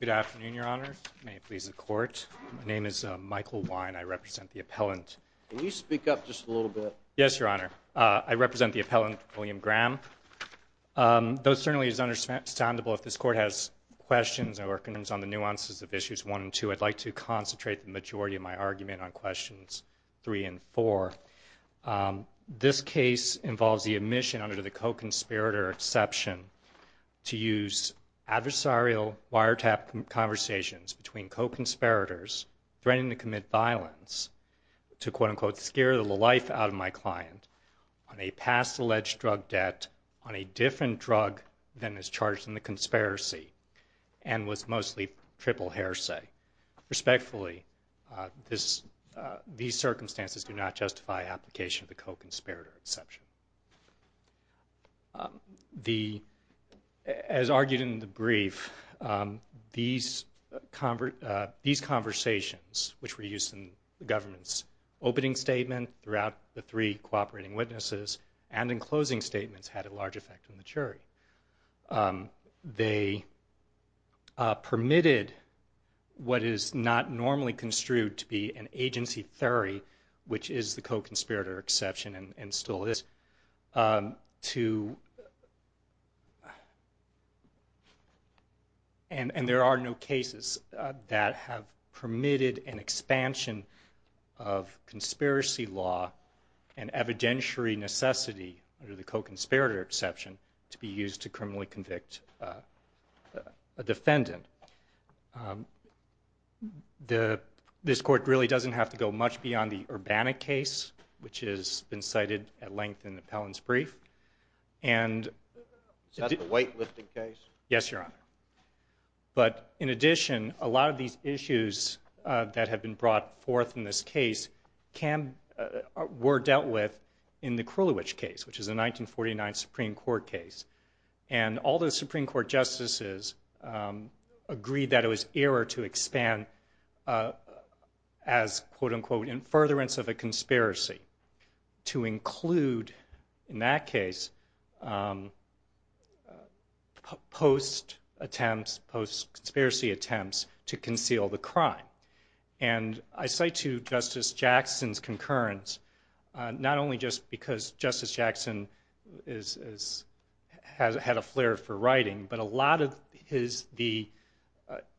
Good afternoon, your honors. May it please the court. My name is Michael Wein. I represent the appellant. Can you speak up just a little bit? Yes, your honor. I represent the appellant, William Graham. Though it certainly is understandable if this court has questions or concerns on the nuances of issues one and two, I'd like to concentrate the majority of my argument on questions three and four. This case involves the admission under the co-conspirator exception to use adversarial wiretap conversations between co-conspirators threatening to commit violence to quote unquote scare the life out of my client on a past alleged drug debt on a different drug than is charged in the conspiracy and was mostly triple heresy. Respectfully, these circumstances do not justify application of the co-conspirator exception. As argued in the brief, these conversations which were used in the government's opening statement throughout the three cooperating witnesses and in closing statements had a large effect on the jury. They permitted what is not normally construed to be an agency theory, which is the co-conspirator exception and still is, and there are no cases that have permitted an expansion of conspiracy law and evidentiary necessity under the co-conspirator exception to be used to criminally convict a defendant. This court really doesn't have to go much beyond the Urbana case, which has been cited at length in the appellant's brief. Is that the weightlifting case? Yes, Your Honor. But in addition, a lot of these issues that have been brought forth in this case were dealt with in the Krulwich case, which is a 1949 Supreme Court case. All the Supreme Court justices agreed that it was error to expand as, quote unquote, in furtherance of a conspiracy to include, in that case, post-attempts, post-conspiracy attempts to conceal the crime. And I say to Justice Jackson's concurrence, not only just because Justice Jackson has had a flair for writing, but a lot of the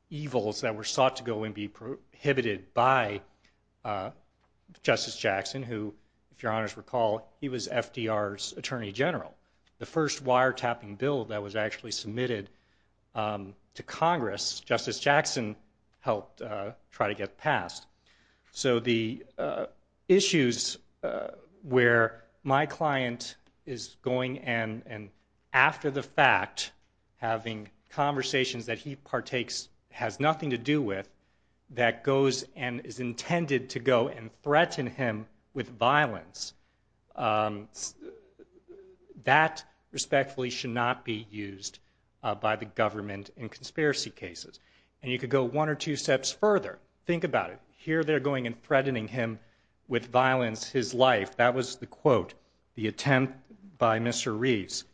evils that were sought to go and be prohibited by Justice Jackson, who, if Your Honors recall, he was FDR's Attorney General. The first wiretapping bill that was actually submitted to Congress, Justice Jackson helped try to get passed. So the issues where my client is going and, after the fact, having conversations that he partakes, has nothing to do with, that goes and is intended to go and threaten him with violence, that respectfully should not be used by the government in conspiracy cases. And you could go one or two steps further. Think about it. Here they're going and threatening him with violence, his life. That was the quote, the attempt by Mr. Reeves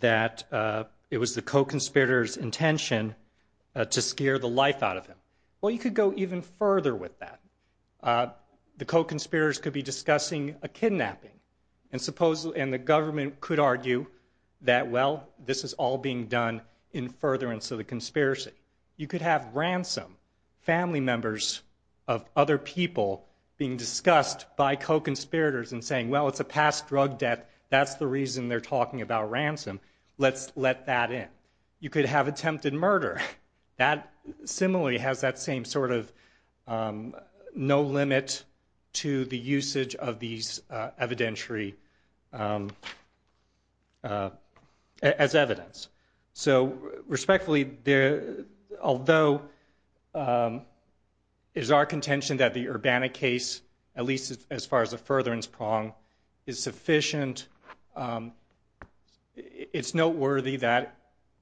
that it was the co-conspirators' intention to scare the life out of him. Well, you could go even further with that. The co-conspirators could be discussing a kidnapping. And the government could argue that, well, this is all being done in furtherance of the conspiracy. You could have ransom, family members of other people being discussed by co-conspirators and saying, well, it's a past drug death, that's the reason they're talking about ransom, let's let that in. You could have attempted murder. That similarly has that same sort of no limit to the usage of these evidentiary as evidence. So respectfully, although it is our contention that the Urbana case, at least as far as the furtherance prong, is sufficient, it's noteworthy that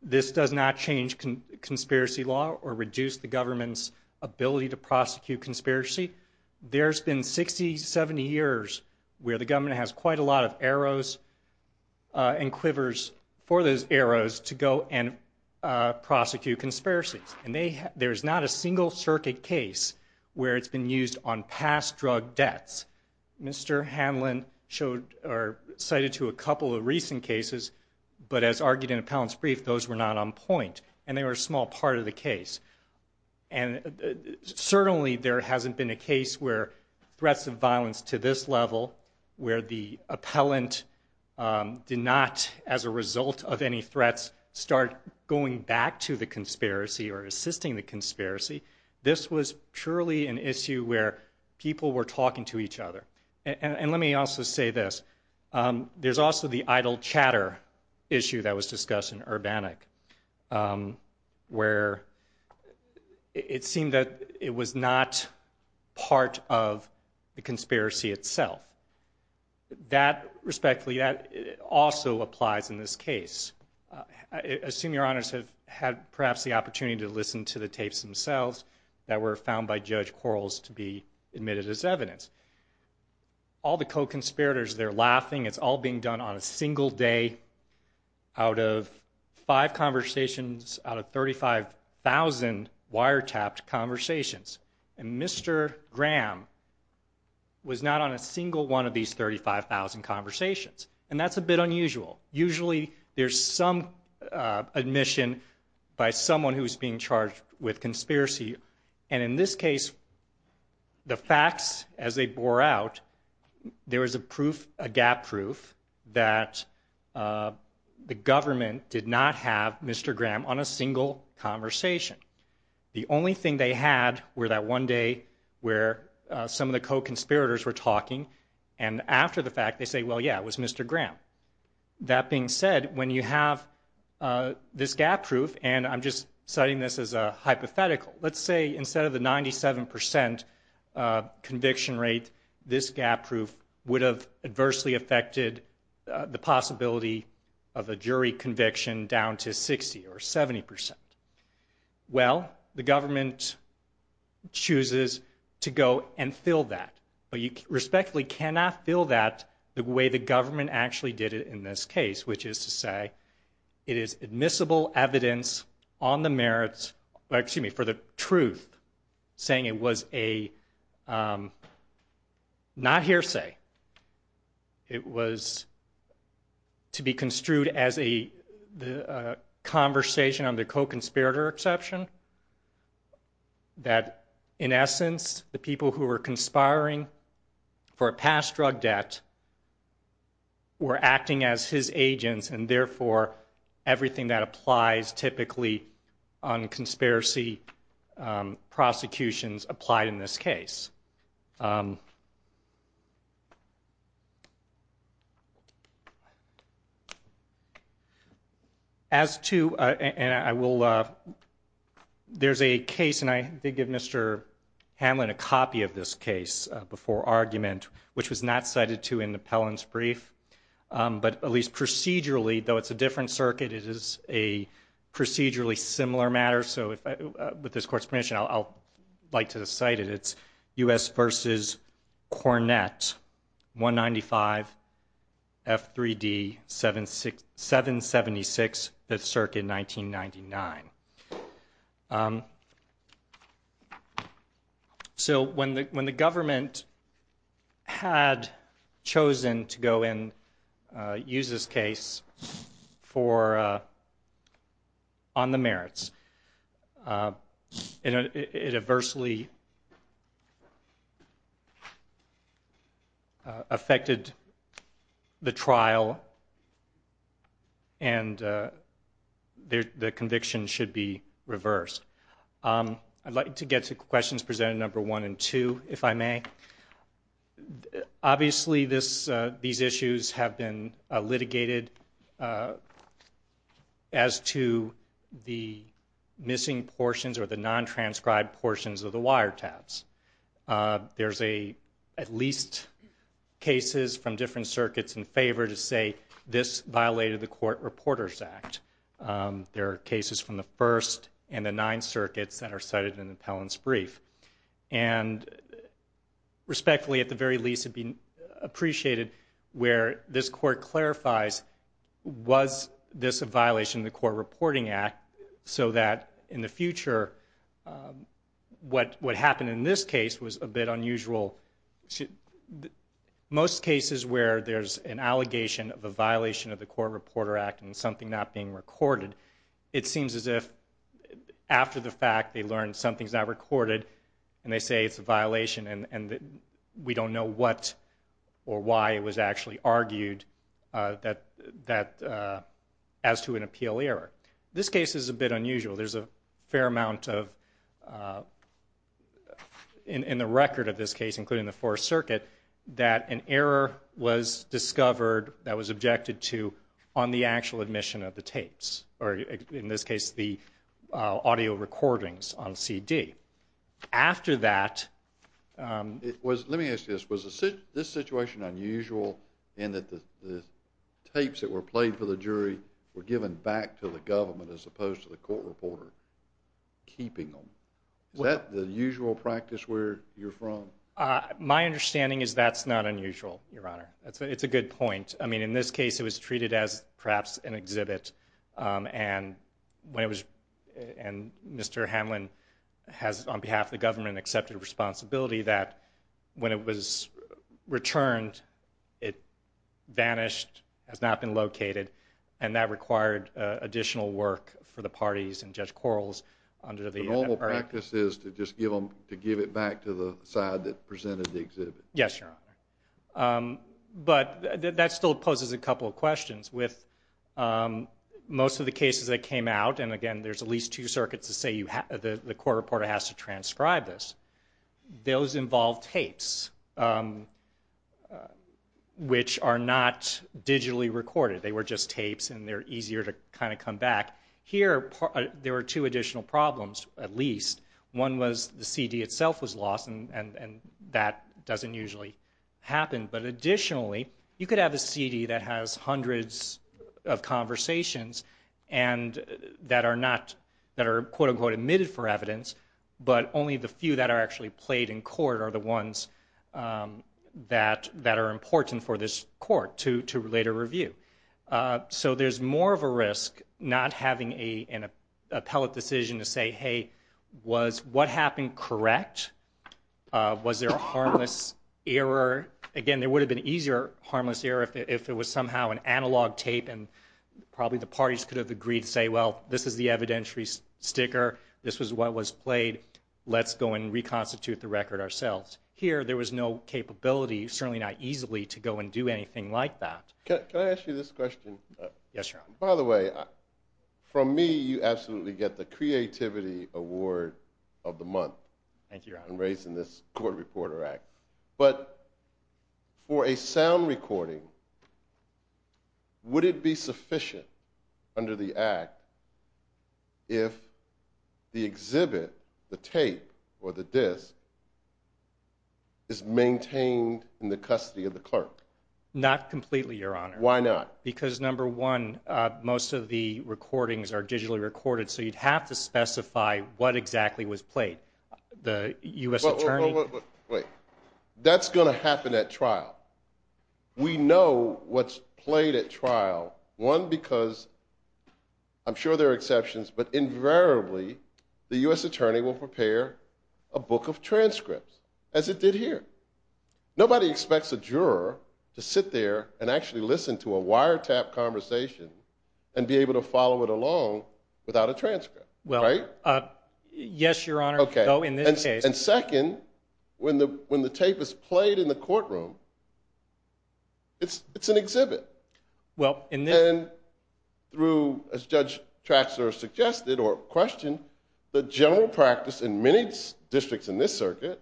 this does not change conspiracy law or reduce the government's ability to prosecute conspiracy. There's been 60, 70 years where the government has quite a lot of arrows and quivers for those arrows to go and prosecute conspiracies. And there's not a single circuit case where it's been used on past drug deaths. Mr. Hanlon showed or cited to a couple of recent cases, but as argued in Appellant's brief, those were not on point. And they were a small part of the case. And certainly there hasn't been a case where threats of violence to this level, where the appellant did not, as a result of any threats, start going back to the conspiracy or assisting the conspiracy. This was purely an issue where people were talking to each other. And let me also say this. There's also the idle chatter issue that was discussed in Urbana, where it seemed that it was not part of the conspiracy itself. That, respectfully, also applies in this case. I assume your honors have had perhaps the opportunity to listen to the tapes themselves that were found by Judge Quarles to be admitted as evidence. All the co-conspirators, they're laughing. It's all being done on a single day out of five conversations out of 35,000 wiretapped conversations. And Mr. Graham was not on a single one of these 35,000 conversations. And that's a bit unusual. Usually there's some admission by someone who's being charged with conspiracy. And in this case, the facts, as they bore out, there was a gap proof that the government did not have Mr. Graham on a single conversation. The only thing they had were that one day where some of the co-conspirators were talking, and after the fact they say, well, yeah, it was Mr. Graham. That being said, when you have this gap proof, and I'm just citing this as a hypothetical, let's say instead of the 97 percent conviction rate, this gap proof would have adversely affected the possibility of a jury conviction down to 60 or 70 percent. Well, the government chooses to go and fill that. But you respectfully cannot fill that the way the government actually did it in this case, which is to say it is admissible evidence on the merits, excuse me, for the truth, saying it was a not hearsay. It was to be construed as a conversation on the co-conspirator exception, that in essence the people who were conspiring for a past drug debt were acting as his agents, and therefore everything that applies typically on conspiracy prosecutions applied in this case. As to, and I will, there's a case, and I did give Mr. Hamlin a copy of this case before argument, which was not cited to in the Pellin's brief, but at least procedurally, though it's a different circuit, it is a procedurally similar matter, so with this court's permission, I'll like to cite it. It's U.S. versus Cornett, 195, F3D, 776, 5th Circuit, 1999. So when the government had chosen to go in, use this case for, on the merits, it adversely affected the trial, and the conviction should be reversed. I'd like to get to questions presented number one and two, if I may. Obviously these issues have been litigated as to the missing portions or the non-transcribed portions of the wiretaps. There's at least cases from different circuits in favor to say this violated the Court Reporters Act. There are cases from the First and the Ninth Circuits that are cited in the Pellin's brief. And respectfully, at the very least, it would be appreciated where this court clarifies, was this a violation of the Court Reporting Act, so that in the future, what happened in this case was a bit unusual. Most cases where there's an allegation of a violation of the Court Reporter Act and something not being recorded, it seems as if after the fact they learned something's not recorded and they say it's a violation and we don't know what or why it was actually argued as to an appeal error. This case is a bit unusual. There's a fair amount of, in the record of this case, including the Fourth Circuit, that an error was discovered that was objected to on the actual admission of the tapes, or in this case, the audio recordings on CD. Let me ask you this. Was this situation unusual in that the tapes that were played for the jury were given back to the government as opposed to the court reporter keeping them? Is that the usual practice where you're from? My understanding is that's not unusual, Your Honor. It's a good point. I mean, in this case, it was treated as perhaps an exhibit, and Mr. Hamlin has, on behalf of the government, accepted responsibility that when it was returned, it vanished, has not been located, and that required additional work for the parties and Judge Quarles. The normal practice is to just give it back to the side that presented the exhibit. Yes, Your Honor. But that still poses a couple of questions. With most of the cases that came out, and again, there's at least two circuits to say the court reporter has to transcribe this, those involved tapes, which are not digitally recorded. They were just tapes, and they're easier to kind of come back. Here, there were two additional problems, at least. One was the CD itself was lost, and that doesn't usually happen. But additionally, you could have a CD that has hundreds of conversations and that are not, that are quote, unquote, omitted for evidence, but only the few that are actually played in court are the ones that are important for this court to later review. So there's more of a risk not having an appellate decision to say, hey, was what happened correct? Was there a harmless error? Again, there would have been an easier harmless error if it was somehow an analog tape, and probably the parties could have agreed to say, well, this is the evidentiary sticker. This was what was played. Let's go and reconstitute the record ourselves. Here, there was no capability, certainly not easily, to go and do anything like that. Can I ask you this question? Yes, Your Honor. By the way, from me, you absolutely get the creativity award of the month. Thank you, Your Honor. I'm raising this Court Reporter Act. But for a sound recording, would it be sufficient under the Act if the exhibit, the tape or the disc, is maintained in the custody of the clerk? Not completely, Your Honor. Why not? Because number one, most of the recordings are digitally recorded, so you'd have to specify what exactly was played. The U.S. Attorney? Wait. We know what's played at trial. One, because I'm sure there are exceptions, but invariably the U.S. Attorney will prepare a book of transcripts, as it did here. Nobody expects a juror to sit there and actually listen to a wiretap conversation and be able to follow it along without a transcript. Right? Yes, Your Honor. Okay. And second, when the tape is played in the courtroom, it's an exhibit. And through, as Judge Traxler suggested or questioned, the general practice in many districts in this circuit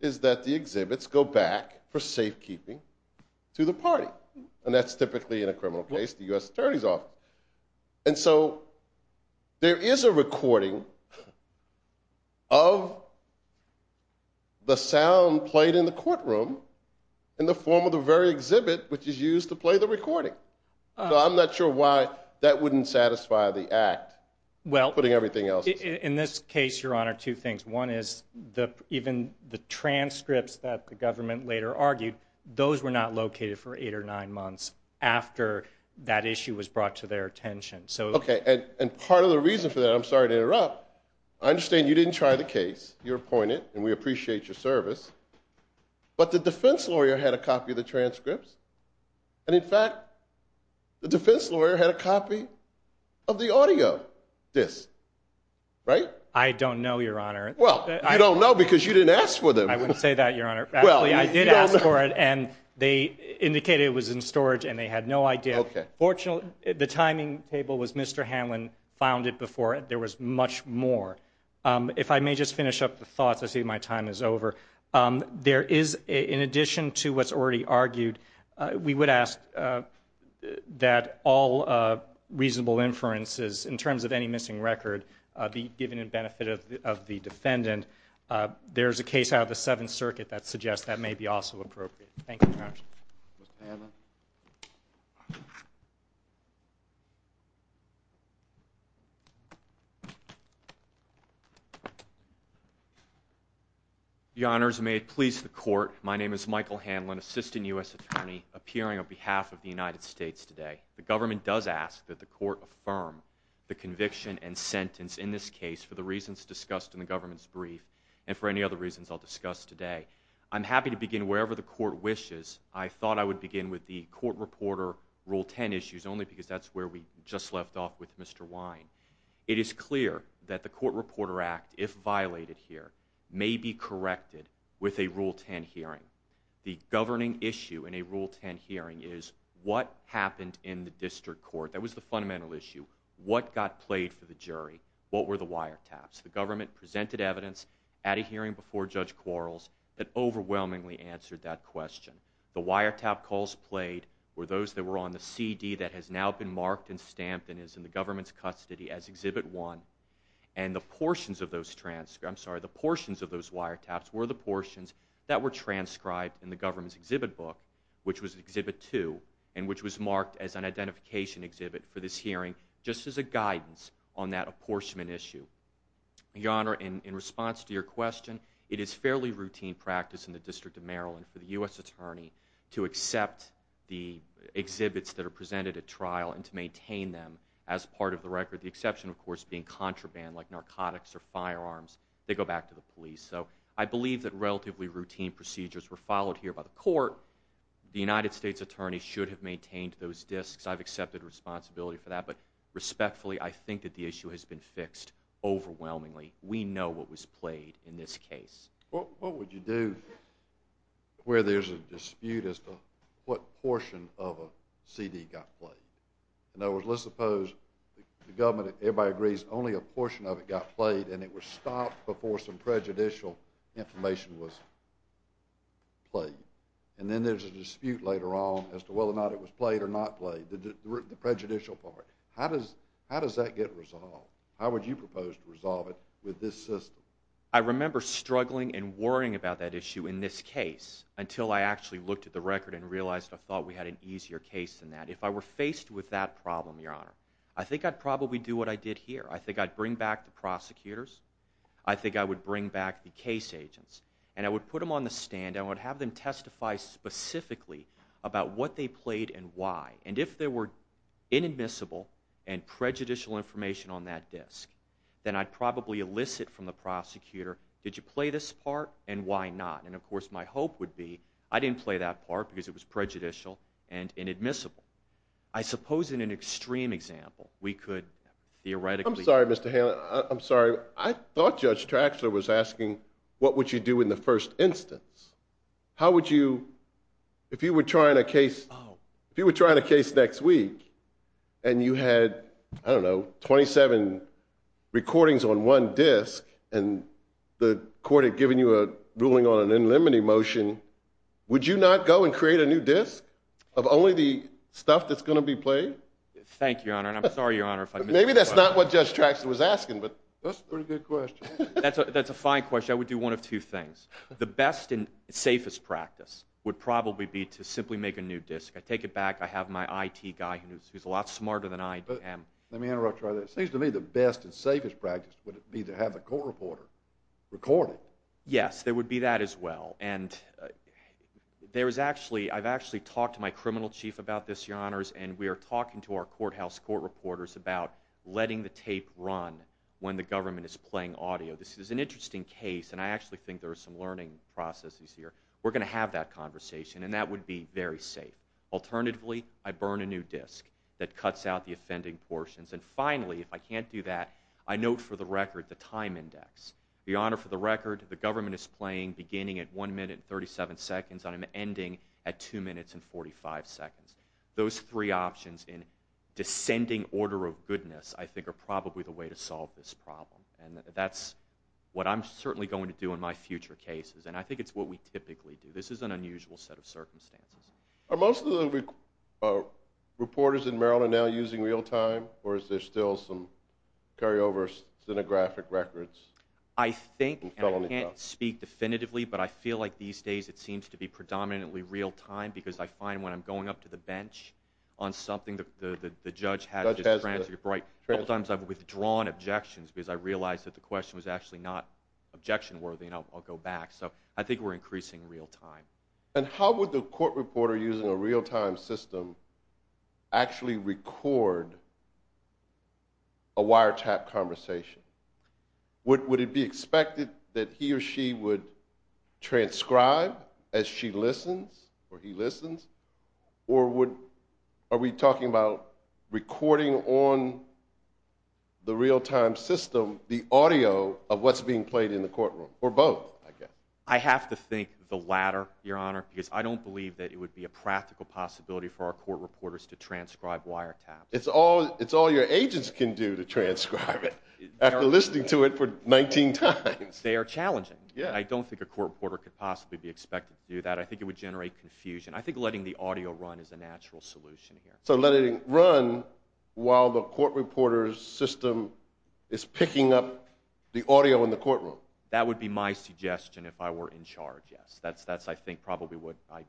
is that the exhibits go back for safekeeping to the party. And that's typically in a criminal case, the U.S. Attorney's Office. And so there is a recording of the sound played in the courtroom in the form of the very exhibit which is used to play the recording. So I'm not sure why that wouldn't satisfy the act, putting everything else aside. In this case, Your Honor, two things. One is even the transcripts that the government later argued, those were not located for eight or nine months after that issue was brought to their attention. Okay. And part of the reason for that, I'm sorry to interrupt, I understand you didn't try the case, you're appointed, and we appreciate your service. But the defense lawyer had a copy of the transcripts, and in fact the defense lawyer had a copy of the audio disc, right? I don't know, Your Honor. Well, you don't know because you didn't ask for them. I wouldn't say that, Your Honor. Actually, I did ask for it, and they indicated it was in storage, and they had no idea. Fortunately, the timing table was Mr. Hanlon found it before. There was much more. If I may just finish up the thoughts, I see my time is over. There is, in addition to what's already argued, we would ask that all reasonable inferences in terms of any missing record be given in benefit of the defendant. There is a case out of the Seventh Circuit that suggests that may be also appropriate. Mr. Hanlon? Your Honors, may it please the Court, my name is Michael Hanlon, Assistant U.S. Attorney, appearing on behalf of the United States today. The government does ask that the Court affirm the conviction and sentence in this case for the reasons discussed in the government's brief and for any other reasons I'll discuss today. I'm happy to begin wherever the Court wishes. I thought I would begin with the Court Reporter Rule 10 issues only because that's where we just left off with Mr. Wine. It is clear that the Court Reporter Act, if violated here, may be corrected with a Rule 10 hearing. The governing issue in a Rule 10 hearing is what happened in the District Court. That was the fundamental issue. What got played for the jury? What were the wiretaps? The government presented evidence at a hearing before Judge Quarles that overwhelmingly answered that question. The wiretap calls played were those that were on the CD that has now been marked and stamped and is in the government's custody as Exhibit 1, and the portions of those wiretaps were the portions that were transcribed in the government's exhibit book, which was Exhibit 2, and which was marked as an identification exhibit for this hearing just as a guidance on that apportionment issue. Your Honor, in response to your question, it is fairly routine practice in the District of Maryland for the U.S. Attorney to accept the exhibits that are presented at trial and to maintain them as part of the record, the exception, of course, being contraband like narcotics or firearms. They go back to the police. So I believe that relatively routine procedures were followed here by the court. The United States Attorney should have maintained those discs. I've accepted responsibility for that. But respectfully, I think that the issue has been fixed overwhelmingly. We know what was played in this case. What would you do where there's a dispute as to what portion of a CD got played? In other words, let's suppose the government, everybody agrees, only a portion of it got played and it was stopped before some prejudicial information was played. And then there's a dispute later on as to whether or not it was played or not played, the prejudicial part. How does that get resolved? How would you propose to resolve it with this system? I remember struggling and worrying about that issue in this case until I actually looked at the record and realized I thought we had an easier case than that. If I were faced with that problem, Your Honor, I think I'd probably do what I did here. I think I'd bring back the prosecutors. I think I would bring back the case agents. And I would put them on the stand. I would have them testify specifically about what they played and why. And if there were inadmissible and prejudicial information on that disc, then I'd probably elicit from the prosecutor, did you play this part and why not? And, of course, my hope would be I didn't play that part because it was prejudicial and inadmissible. I suppose in an extreme example we could theoretically... I'm sorry, Mr. Haley. I'm sorry. I thought Judge Traxler was asking what would you do in the first instance. How would you, if you were trying a case next week and you had, I don't know, 27 recordings on one disc and the court had given you a ruling on an in limine motion, would you not go and create a new disc of only the stuff that's going to be played? Thank you, Your Honor, and I'm sorry, Your Honor, if I missed something. Maybe that's not what Judge Traxler was asking, but that's a pretty good question. That's a fine question. I would do one of two things. The best and safest practice would probably be to simply make a new disc. I take it back. I have my I.T. guy who's a lot smarter than I am. Let me interrupt you right there. It seems to me the best and safest practice would be to have a court reporter record it. Yes, it would be that as well. And I've actually talked to my criminal chief about this, Your Honors, and we are talking to our courthouse court reporters about letting the tape run when the government is playing audio. This is an interesting case, and I actually think there are some learning processes here. We're going to have that conversation, and that would be very safe. Alternatively, I burn a new disc that cuts out the offending portions, and finally, if I can't do that, I note for the record the time index. Your Honor, for the record, the government is playing beginning at 1 minute and 37 seconds, and I'm ending at 2 minutes and 45 seconds. Those three options in descending order of goodness, I think, are probably the way to solve this problem, and that's what I'm certainly going to do in my future cases, and I think it's what we typically do. This is an unusual set of circumstances. Are most of the reporters in Maryland now using real-time, or is there still some carryover cinegraphic records? I think, and I can't speak definitively, but I feel like these days it seems to be predominantly real-time because I find when I'm going up to the bench on something, the judge has a transcript. A lot of times I've withdrawn objections because I realized that the question was actually not objection-worthy, and I'll go back, so I think we're increasing real-time. And how would the court reporter using a real-time system actually record a wiretap conversation? Would it be expected that he or she would transcribe as she listens or he listens, or are we talking about recording on the real-time system the audio of what's being played in the courtroom, or both, I guess? I have to think the latter, Your Honor, because I don't believe that it would be a practical possibility for our court reporters to transcribe wiretaps. It's all your agents can do to transcribe it, after listening to it for 19 times. They are challenging. I don't think a court reporter could possibly be expected to do that. I think it would generate confusion. I think letting the audio run is a natural solution here. So letting it run while the court reporter's system is picking up the audio in the courtroom? That would be my suggestion if I were in charge, yes. That's, I think, probably what I...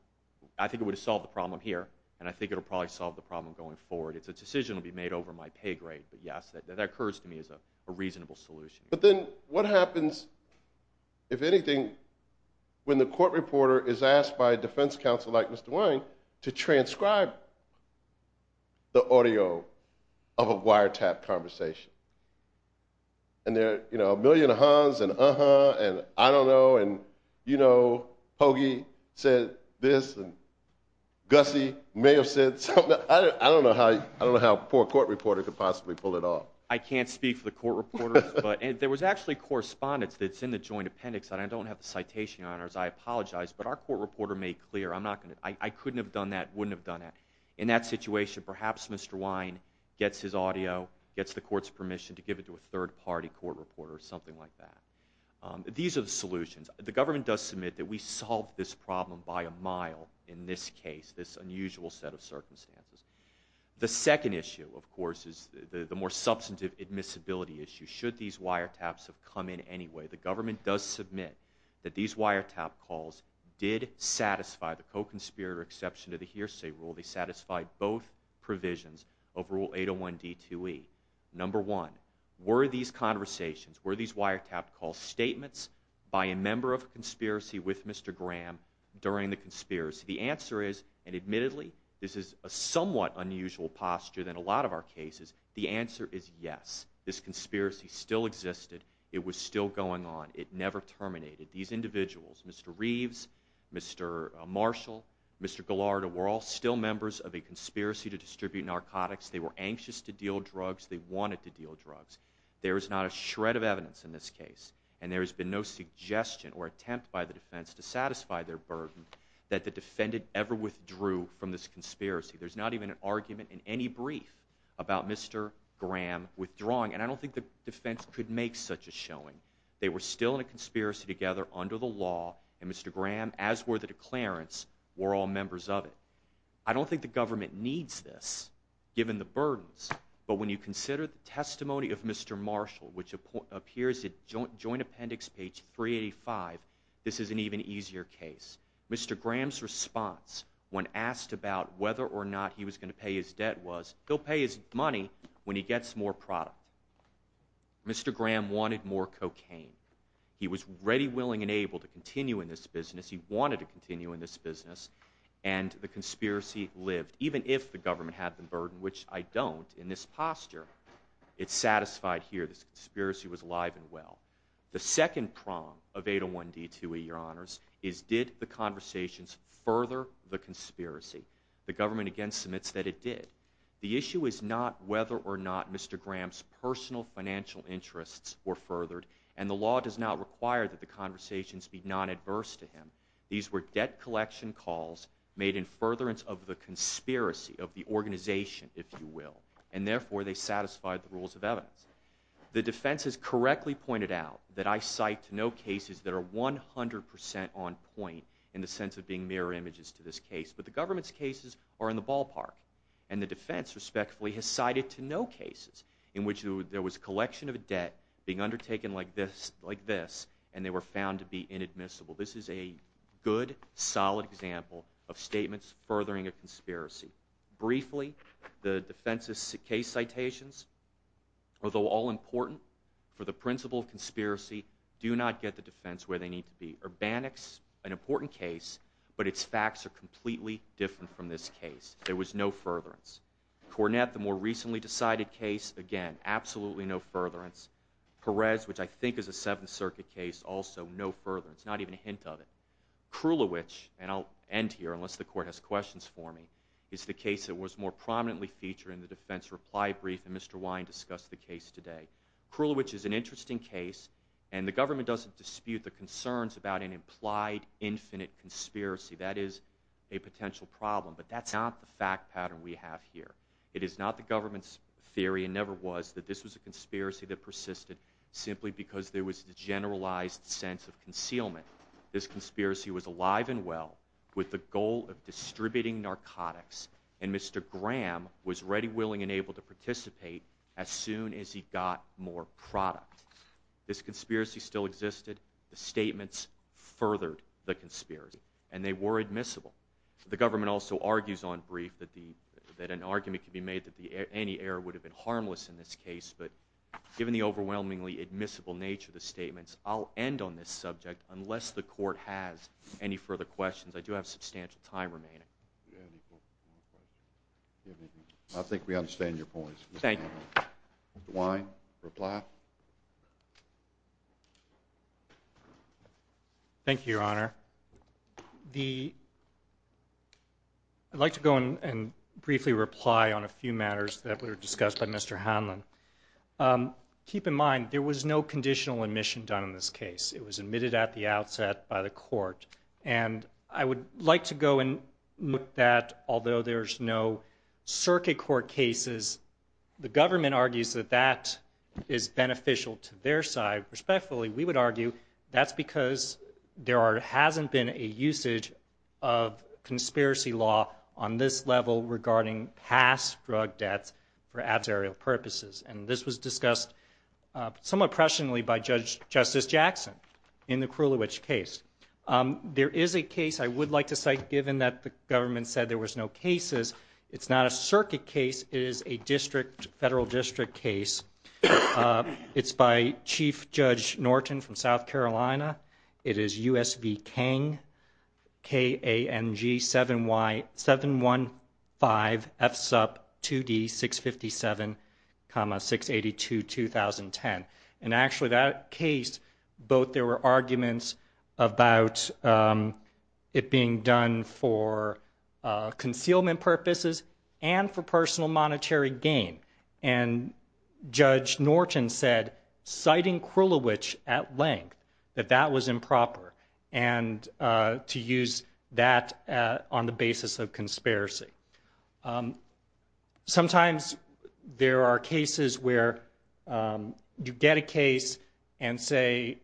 I think it would have solved the problem here, and I think it will probably solve the problem going forward. It's a decision that will be made over my pay grade, but yes, that occurs to me as a reasonable solution. But then what happens, if anything, when the court reporter is asked by a defense counsel like Mr. Wayne to transcribe the audio of a wiretap conversation? And there are a million uh-huhs, and uh-huh, and I don't know, and you know, Hoagie said this, and Gussie may have said something. I don't know how a poor court reporter could possibly pull it off. I can't speak for the court reporters, but there was actually correspondence that's in the joint appendix, and I don't have the citation on it, as I apologize, but our court reporter made clear, I'm not going to... I couldn't have done that, wouldn't have done that. In that situation, perhaps Mr. Wayne gets his audio, gets the court's permission to give it to a third-party court reporter or something like that. These are the solutions. The government does submit that we solved this problem by a mile in this case, this unusual set of circumstances. The second issue, of course, is the more substantive admissibility issue. Should these wiretaps have come in anyway, the government does submit that these wiretap calls did satisfy the co-conspirator exception to the hearsay rule. They satisfied both provisions of Rule 801D2E. Number one, were these conversations, were these wiretap calls statements by a member of a conspiracy with Mr. Graham during the conspiracy? The answer is, and admittedly this is a somewhat unusual posture than a lot of our cases, the answer is yes. This conspiracy still existed. It was still going on. It never terminated. These individuals, Mr. Reeves, Mr. Marshall, Mr. Gallardo, were all still members of a conspiracy to distribute narcotics. They were anxious to deal drugs. They wanted to deal drugs. There is not a shred of evidence in this case, and there has been no suggestion or attempt by the defense to satisfy their burden that the defendant ever withdrew from this conspiracy. There's not even an argument in any brief about Mr. Graham withdrawing, and I don't think the defense could make such a showing. They were still in a conspiracy together under the law, and Mr. Graham, as were the declarants, were all members of it. I don't think the government needs this given the burdens, but when you consider the testimony of Mr. Marshall, which appears at Joint Appendix page 385, this is an even easier case. Mr. Graham's response when asked about whether or not he was going to pay his debt was he'll pay his money when he gets more product. Mr. Graham wanted more cocaine. He was ready, willing, and able to continue in this business. He wanted to continue in this business, and the conspiracy lived, even if the government had the burden, which I don't in this posture. It's satisfied here. This conspiracy was alive and well. The second prong of 801D2E, Your Honors, is did the conversations further the conspiracy? The government again submits that it did. The issue is not whether or not Mr. Graham's personal financial interests were furthered, and the law does not require that the conversations be non-adverse to him. These were debt collection calls made in furtherance of the conspiracy of the organization, if you will, and therefore they satisfied the rules of evidence. The defense has correctly pointed out that I cite no cases that are 100% on point in the sense of being mirror images to this case, but the government's cases are in the ballpark, and the defense, respectfully, has cited no cases in which there was collection of debt being undertaken like this, and they were found to be inadmissible. This is a good, solid example of statements furthering a conspiracy. Briefly, the defense's case citations, although all important for the principle of conspiracy, do not get the defense where they need to be. Urbanics, an important case, but its facts are completely different from this case. There was no furtherance. Cornett, the more recently decided case, again, absolutely no furtherance. Perez, which I think is a Seventh Circuit case, also no furtherance, not even a hint of it. Krulowicz, and I'll end here unless the court has questions for me, is the case that was more prominently featured in the defense reply brief, and Mr. Wine discussed the case today. Krulowicz is an interesting case, and the government doesn't dispute the concerns about an implied infinite conspiracy. That is a potential problem, but that's not the fact pattern we have here. It is not the government's theory, and never was, that this was a conspiracy that persisted simply because there was a generalized sense of concealment. This conspiracy was alive and well with the goal of distributing narcotics, and Mr. Graham was ready, willing, and able to participate as soon as he got more product. This conspiracy still existed. The statements furthered the conspiracy, and they were admissible. The government also argues on brief that an argument could be made that any error would have been harmless in this case, but given the overwhelmingly admissible nature of the statements, I'll end on this subject unless the court has any further questions. I do have substantial time remaining. I think we understand your points. Thank you. Mr. Wine, reply. Thank you, Your Honor. I'd like to go and briefly reply on a few matters that were discussed by Mr. Hanlon. Keep in mind there was no conditional admission done in this case. It was admitted at the outset by the court, and I would like to go and note that although there's no circuit court cases, the government argues that that is beneficial to their side. Respectfully, we would argue that's because there hasn't been a usage of conspiracy law on this level regarding past drug debts for adversarial purposes, and this was discussed somewhat presciently by Justice Jackson in the Krulwich case. There is a case I would like to cite, given that the government said there was no cases. It's not a circuit case. It is a federal district case. It's by Chief Judge Norton from South Carolina. It is U.S. v. Kang, K-A-N-G-7-1-5-F-S-U-P-2-D-6-57, 6-82-2010. And actually that case, both there were arguments about it being done for concealment purposes and for personal monetary gain, and Judge Norton said, citing Krulwich at length, that that was improper and to use that on the basis of conspiracy. Sometimes there are cases where you get a case and say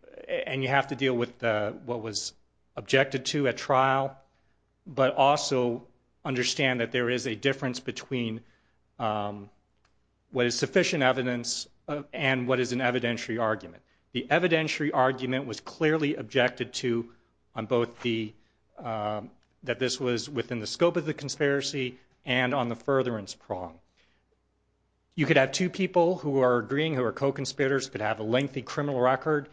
and you have to deal with what was objected to at trial, but also understand that there is a difference between what is sufficient evidence and what is an evidentiary argument. The evidentiary argument was clearly objected to on both the that this was within the scope of the conspiracy and on the furtherance prong. You could have two people who are agreeing, who are co-conspirators, could have a lengthy criminal record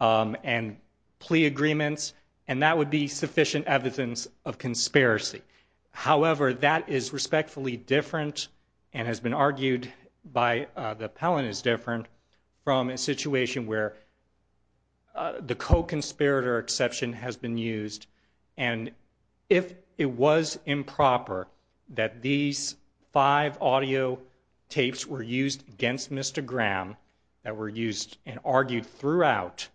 and plea agreements, and that would be sufficient evidence of conspiracy. However, that is respectfully different and has been argued by the appellant is different from a situation where the co-conspirator exception has been used. And if it was improper that these five audio tapes were used against Mr. Graham, that were used and argued throughout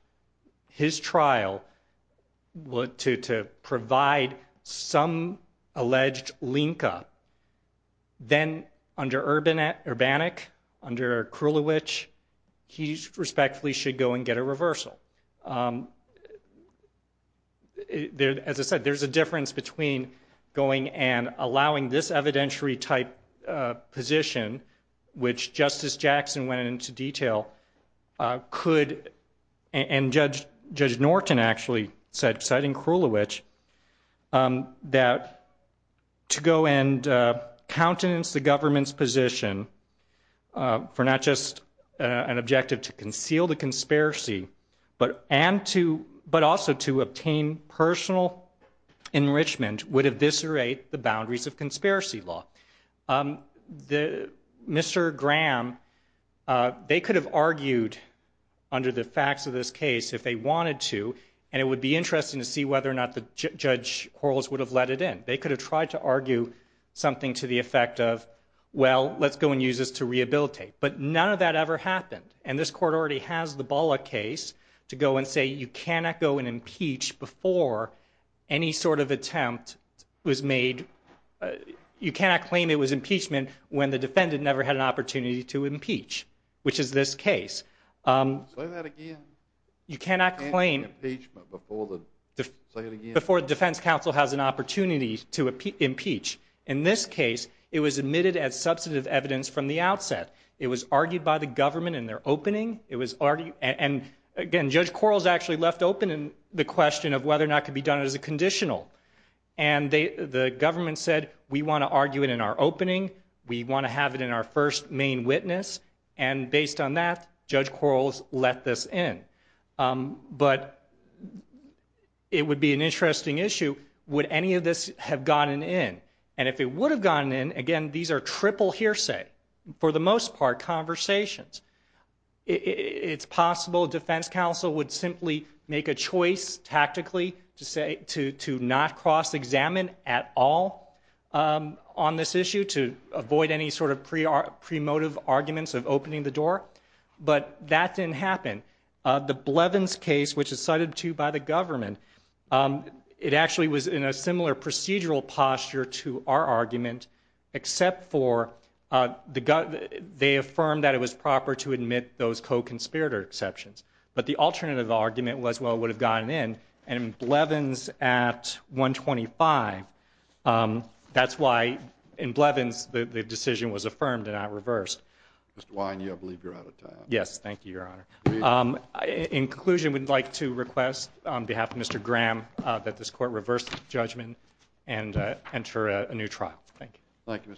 his trial to provide some alleged link-up, then under Urbanik, under Krulwich, he respectfully should go and get a reversal. As I said, there's a difference between going and allowing this evidentiary-type position, which Justice Jackson went into detail could, and Judge Norton actually said, citing Krulwich, that to go and countenance the government's position for not just an objective to conceal the conspiracy, but also to obtain personal enrichment would eviscerate the boundaries of conspiracy law. Mr. Graham, they could have argued under the facts of this case if they wanted to, and it would be interesting to see whether or not the judge would have let it in. They could have tried to argue something to the effect of, well, let's go and use this to rehabilitate. But none of that ever happened. And this court already has the Bullock case to go and say you cannot go and impeach before any sort of attempt was made. You cannot claim it was impeachment when the defendant never had an opportunity to impeach, which is this case. Say that again. You cannot claim it was impeachment before the defense counsel has an opportunity to impeach. In this case, it was admitted as substantive evidence from the outset. It was argued by the government in their opening. And again, Judge Quarles actually left open the question of whether or not it could be done as a conditional. And the government said, we want to argue it in our opening. We want to have it in our first main witness. And based on that, Judge Quarles let this in. But it would be an interesting issue. Would any of this have gotten in? And if it would have gotten in, again, these are triple hearsay, for the most part conversations. It's possible defense counsel would simply make a choice tactically to not cross-examine at all on this issue, to avoid any sort of pre-motive arguments of opening the door. But that didn't happen. The Blevins case, which is cited, too, by the government, it actually was in a similar procedural posture to our argument, except for they affirmed that it was proper to admit those co-conspirator exceptions. But the alternative argument was, well, it would have gotten in. And in Blevins at 125, that's why in Blevins the decision was affirmed and not reversed. Mr. Wine, I believe you're out of time. Yes, thank you, Your Honor. In conclusion, we'd like to request on behalf of Mr. Graham that this court reverse the judgment and enter a new trial. Thank you.